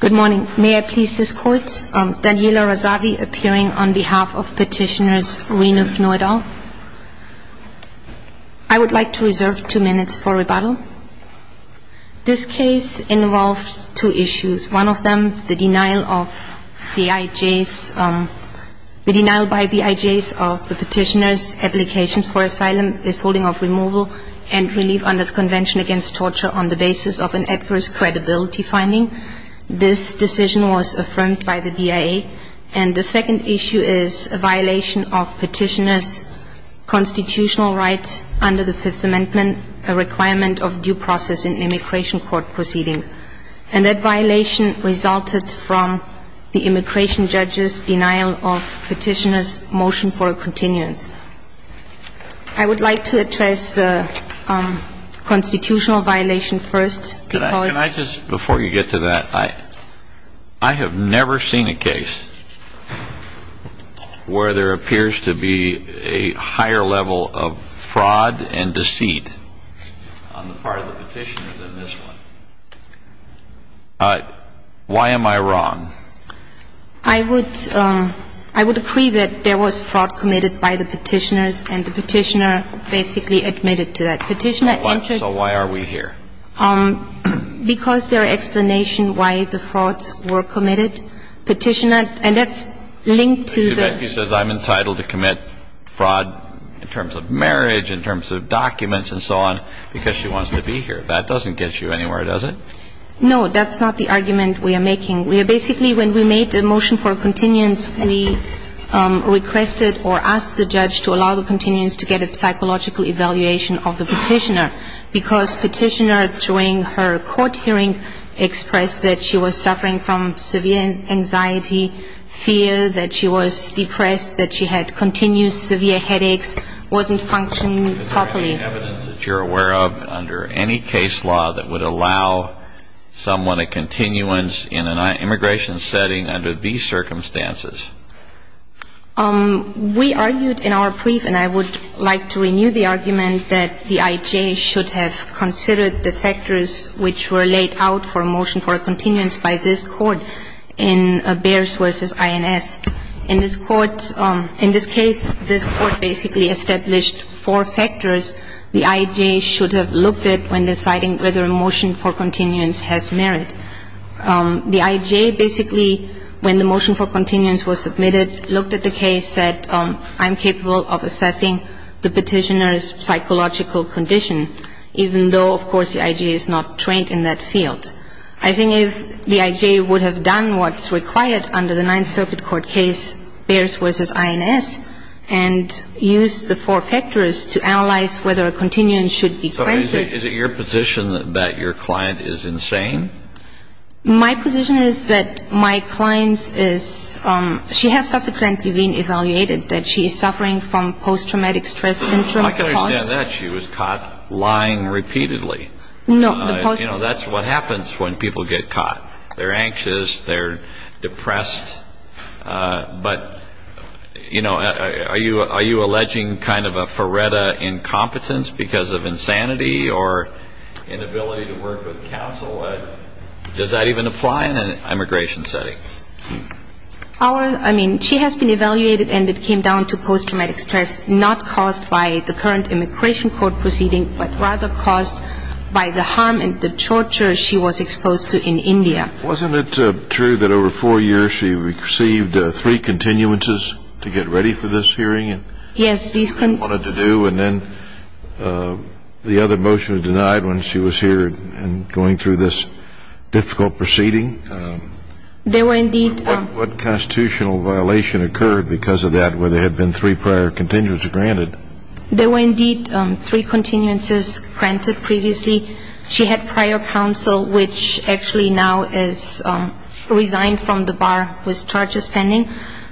Good morning. May I please this court? Daniela Razavi appearing on behalf of Petitioner Reinald Fnu et al. I would like to reserve two minutes for rebuttal. This case involves two issues, one of them the denial of the IJs, the denial by the IJs of the petitioner's application for asylum, his holding of removal and relief under the Convention Against Torture on the basis of an adverse credibility finding. This decision was affirmed by the DIA. And the second issue is a violation of petitioner's constitutional rights under the Fifth Amendment, a requirement of due process in an immigration court proceeding. And that violation resulted from the immigration judge's denial of petitioner's motion for a continuance. I would like to address the constitutional violation first because ---- Can I just, before you get to that, I have never seen a case where there appears to be a higher level of fraud and deceit on the part of the petitioner than this one. Why am I wrong? I would ---- I would agree that there was fraud committed by the petitioners and the petitioner basically admitted to that. Petitioner entered ---- So why are we here? Because there are explanations why the frauds were committed. Petitioner ---- and that's linked to the ---- But Zubecki says I'm entitled to commit fraud in terms of marriage, in terms of documents and so on because she wants to be here. That doesn't get you anywhere, does it? No, that's not the argument we are making. We are basically, when we made the motion for a continuance, we requested or asked the judge to allow the continuance to get a psychological evaluation of the petitioner because petitioner, during her court hearing, expressed that she was suffering from severe anxiety, fear that she was depressed, that she had continuous severe headaches, wasn't functioning properly. Is there any evidence that you're aware of under any case law that would allow someone to have a continuance in an immigration setting under these circumstances? We argued in our brief, and I would like to renew the argument, that the IJ should have considered the factors which were laid out for a motion for a continuance by this Court in Bears v. INS. In this Court, in this case, this Court basically established four factors the IJ should have looked at when deciding whether a motion for continuance has merit. The IJ basically, when the motion for continuance was submitted, looked at the case, said I'm capable of assessing the petitioner's psychological condition, even though, of course, the IJ is not trained in that field. I think if the IJ would have done what's required under the Ninth Circuit Court case, Bears v. INS, and used the four factors to analyze whether a continuance should be granted. Is it your position that your client is insane? My position is that my client is, she has subsequently been evaluated, that she is suffering from post-traumatic stress syndrome. I can understand that. She was caught lying repeatedly. No. You know, that's what happens when people get caught. They're anxious. They're depressed. But, you know, are you alleging kind of a Faretta incompetence because of insanity or inability to work with counsel? Does that even apply in an immigration setting? Our, I mean, she has been evaluated, and it came down to post-traumatic stress, not caused by the current immigration court proceeding, but rather caused by the harm and the torture she was exposed to in India. Wasn't it true that over four years she received three continuances to get ready for this hearing? Yes. And then the other motion was denied when she was here and going through this difficult proceeding? There were indeed. What constitutional violation occurred because of that, where there had been three prior continuances granted? There were indeed three continuances granted previously. She had prior counsel, which actually now is resigned from the bar with charges pending.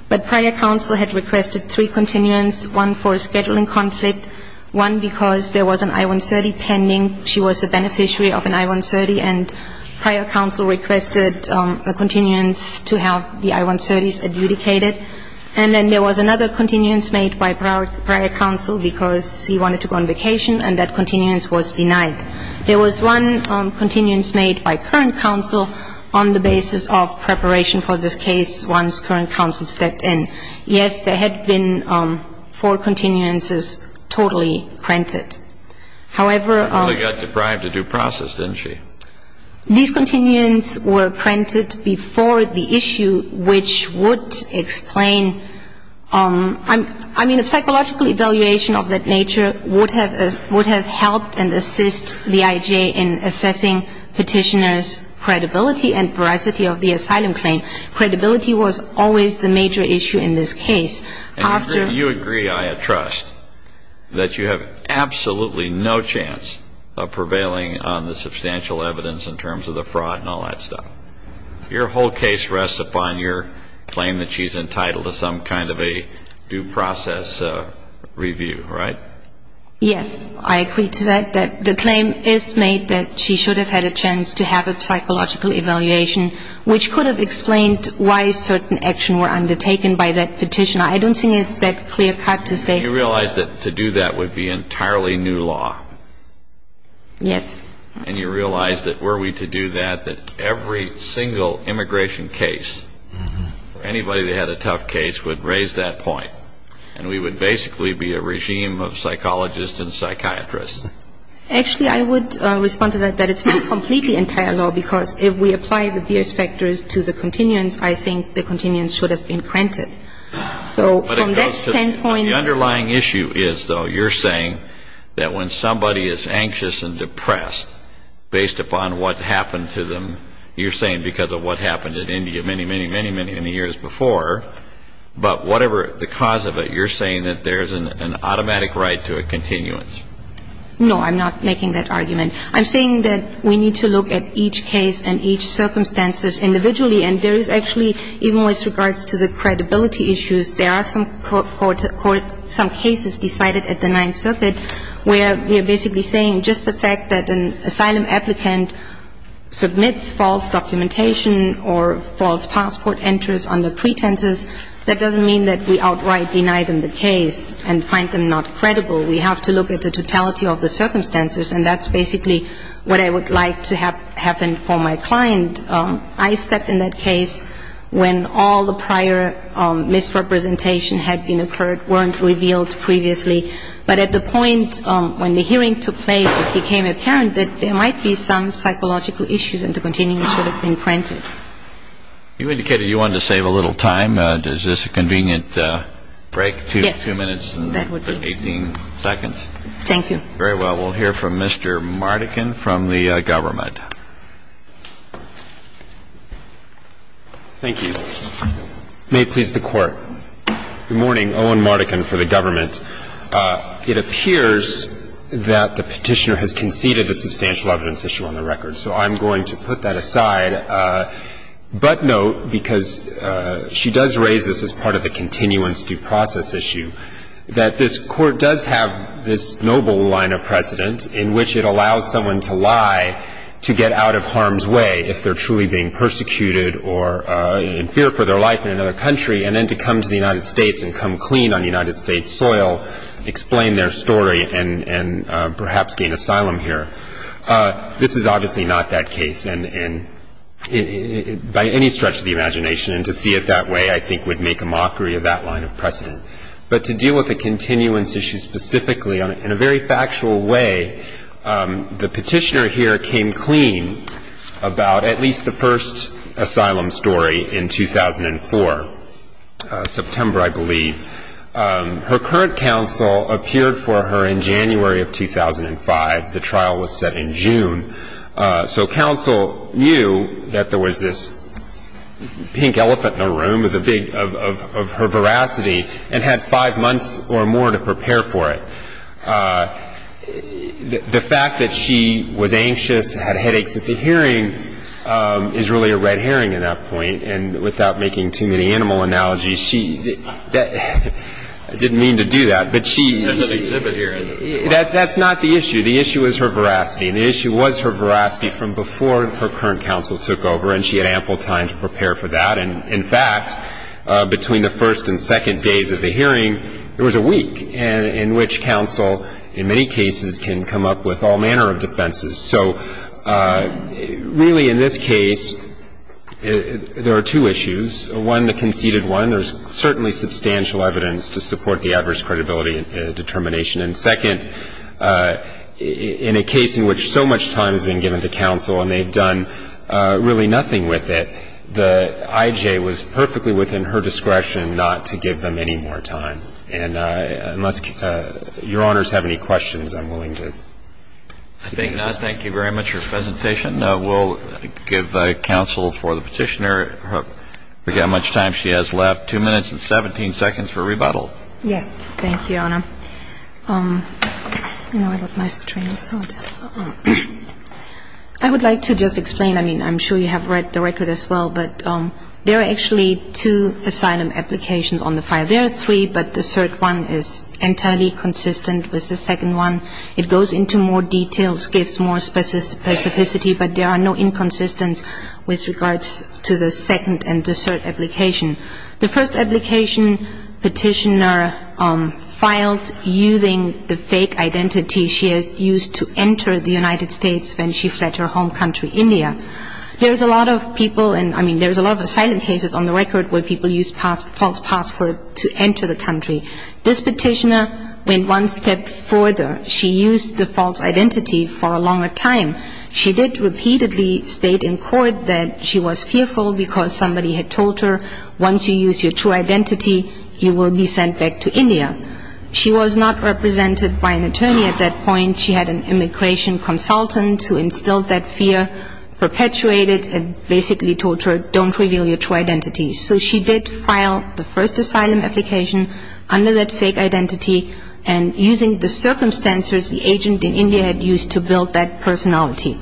But prior counsel had requested three continuances, one for scheduling conflict, one because there was an I-130 pending. She was a beneficiary of an I-130, and prior counsel requested a continuance to have the I-130s adjudicated. And then there was another continuance made by prior counsel because he wanted to go on vacation, and that continuance was denied. There was one continuance made by current counsel on the basis of preparation for this case once current counsel stepped in. Yes, there had been four continuances totally printed. However, She probably got deprived of due process, didn't she? These continuances were printed before the issue, which would explain – I mean, a psychological evaluation of that nature would have helped and assist the IJ in assessing Petitioner's credibility and veracity of the asylum claim. Credibility was always the major issue in this case. And you agree, I trust, that you have absolutely no chance of prevailing on the substantial evidence in terms of the fraud and all that stuff. Your whole case rests upon your claim that she's entitled to some kind of a due process review, right? Yes. I agree to that, that the claim is made that she should have had a chance to have a psychological evaluation, which could have explained why certain actions were undertaken by that Petitioner. I don't think it's that clear-cut to say – You realize that to do that would be entirely new law. Yes. And you realize that were we to do that, that every single immigration case, anybody that had a tough case would raise that point, and we would basically be a regime of psychologists and psychiatrists. Actually, I would respond to that, that it's not completely entire law, because if we apply the Biersch factors to the continuance, I think the continuance should have been granted. So from that standpoint – The underlying issue is, though, you're saying that when somebody is anxious and depressed based upon what happened to them, you're saying because of what happened in India many, many, many, many years before, but whatever the cause of it, you're saying that there's an automatic right to a continuance. No, I'm not making that argument. I'm saying that we need to look at each case and each circumstances individually, and there is actually, even with regards to the credibility issues, there are some cases decided at the Ninth Circuit where we are basically saying just the fact that an asylum applicant submits false documentation or false passport entries under pretenses, that doesn't mean that we outright deny them the case and find them not credible. We have to look at the totality of the circumstances, and that's basically what I would like to have happen for my client. I stepped in that case when all the prior misrepresentation had been occurred, weren't revealed previously. But at the point when the hearing took place, it became apparent that there might be some psychological issues and the continuance should have been granted. You indicated you wanted to save a little time. Is this a convenient break? Yes. Two minutes and 18 seconds. Thank you. Very well. We'll hear from Mr. Mardikin from the government. Thank you. May it please the Court. Good morning. Owen Mardikin for the government. It appears that the Petitioner has conceded the substantial evidence issue on the record, so I'm going to put that aside, but note, because she does raise this as part of the continuance due process issue, that this Court does have this noble line of precedent in which it allows someone to lie to get out of harm's way if they're truly being persecuted or in fear for their life in another country, and then to come to the United States and come clean on United States soil, explain their story and perhaps gain asylum here. This is obviously not that case. And by any stretch of the imagination, to see it that way I think would make a mockery of that line of precedent. But to deal with the continuance issue specifically in a very factual way, the Petitioner here came clean about at least the first asylum story in 2004, September I believe. Her current counsel appeared for her in January of 2005. The trial was set in June. So counsel knew that there was this pink elephant in the room of her veracity, and had five months or more to prepare for it. The fact that she was anxious, had headaches at the hearing, is really a red herring at that point. And without making too many animal analogies, she didn't mean to do that. There's an exhibit here. That's not the issue. The issue is her veracity, and the issue was her veracity from before her current counsel took over, and she had ample time to prepare for that. And in fact, between the first and second days of the hearing, there was a week in which counsel in many cases can come up with all manner of defenses. So really in this case, there are two issues. One, the conceded one, there's certainly substantial evidence to support the adverse credibility determination. And second, in a case in which so much time has been given to counsel and they've done really nothing with it, the I.J. was perfectly within her discretion not to give them any more time. And unless Your Honors have any questions, I'm willing to speak. Thank you very much for your presentation. We'll give counsel for the petitioner how much time she has left. Two minutes and 17 seconds for rebuttal. Yes. Thank you, Your Honor. I would like to just explain, I mean, I'm sure you have read the record as well, but there are actually two asylum applications on the file. There are three, but the third one is entirely consistent with the second one. It goes into more details, gives more specificity, but there are no inconsistencies with regards to the second and the third application. The first application, petitioner filed using the fake identity she had used to enter the United States when she fled her home country, India. There's a lot of people, I mean, there's a lot of asylum cases on the record where people use false passwords to enter the country. This petitioner went one step further. She used the false identity for a longer time. She did repeatedly state in court that she was fearful because somebody had told her once you use your true identity, you will be sent back to India. She was not represented by an attorney at that point. She had an immigration consultant who instilled that fear, perpetuated it, and basically told her don't reveal your true identity. So she did file the first asylum application under that fake identity and using the circumstances the agent in India had used to build that personality.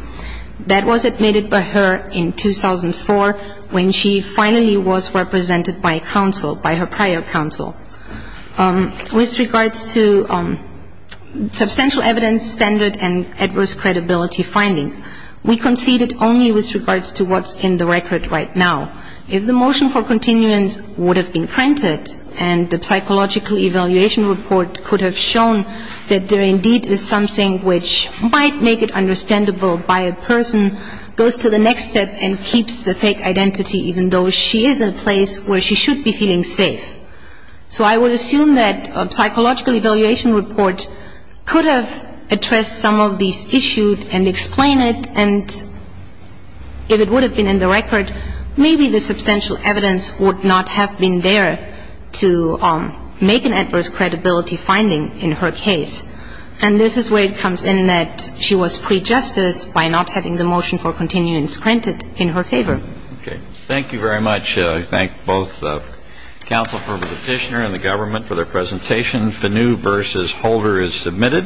That was admitted by her in 2004 when she finally was represented by counsel, by her prior counsel. With regards to substantial evidence standard and adverse credibility finding, we conceded only with regards to what's in the record right now. If the motion for continuance would have been printed and the psychological evaluation report could have shown that there indeed is something which might make it understandable by a person, goes to the next step and keeps the fake identity even though she is in a place where she should be feeling safe. So I would assume that a psychological evaluation report could have addressed some of these issues and explained it, and if it would have been in the record, maybe the substantial evidence would not have been there to make an adverse credibility finding in her case. And this is where it comes in that she was prejudiced by not having the motion for continuance printed in her favor. Okay. Thank you very much. I thank both counsel for Petitioner and the government for their presentations. The new versus holder is submitted.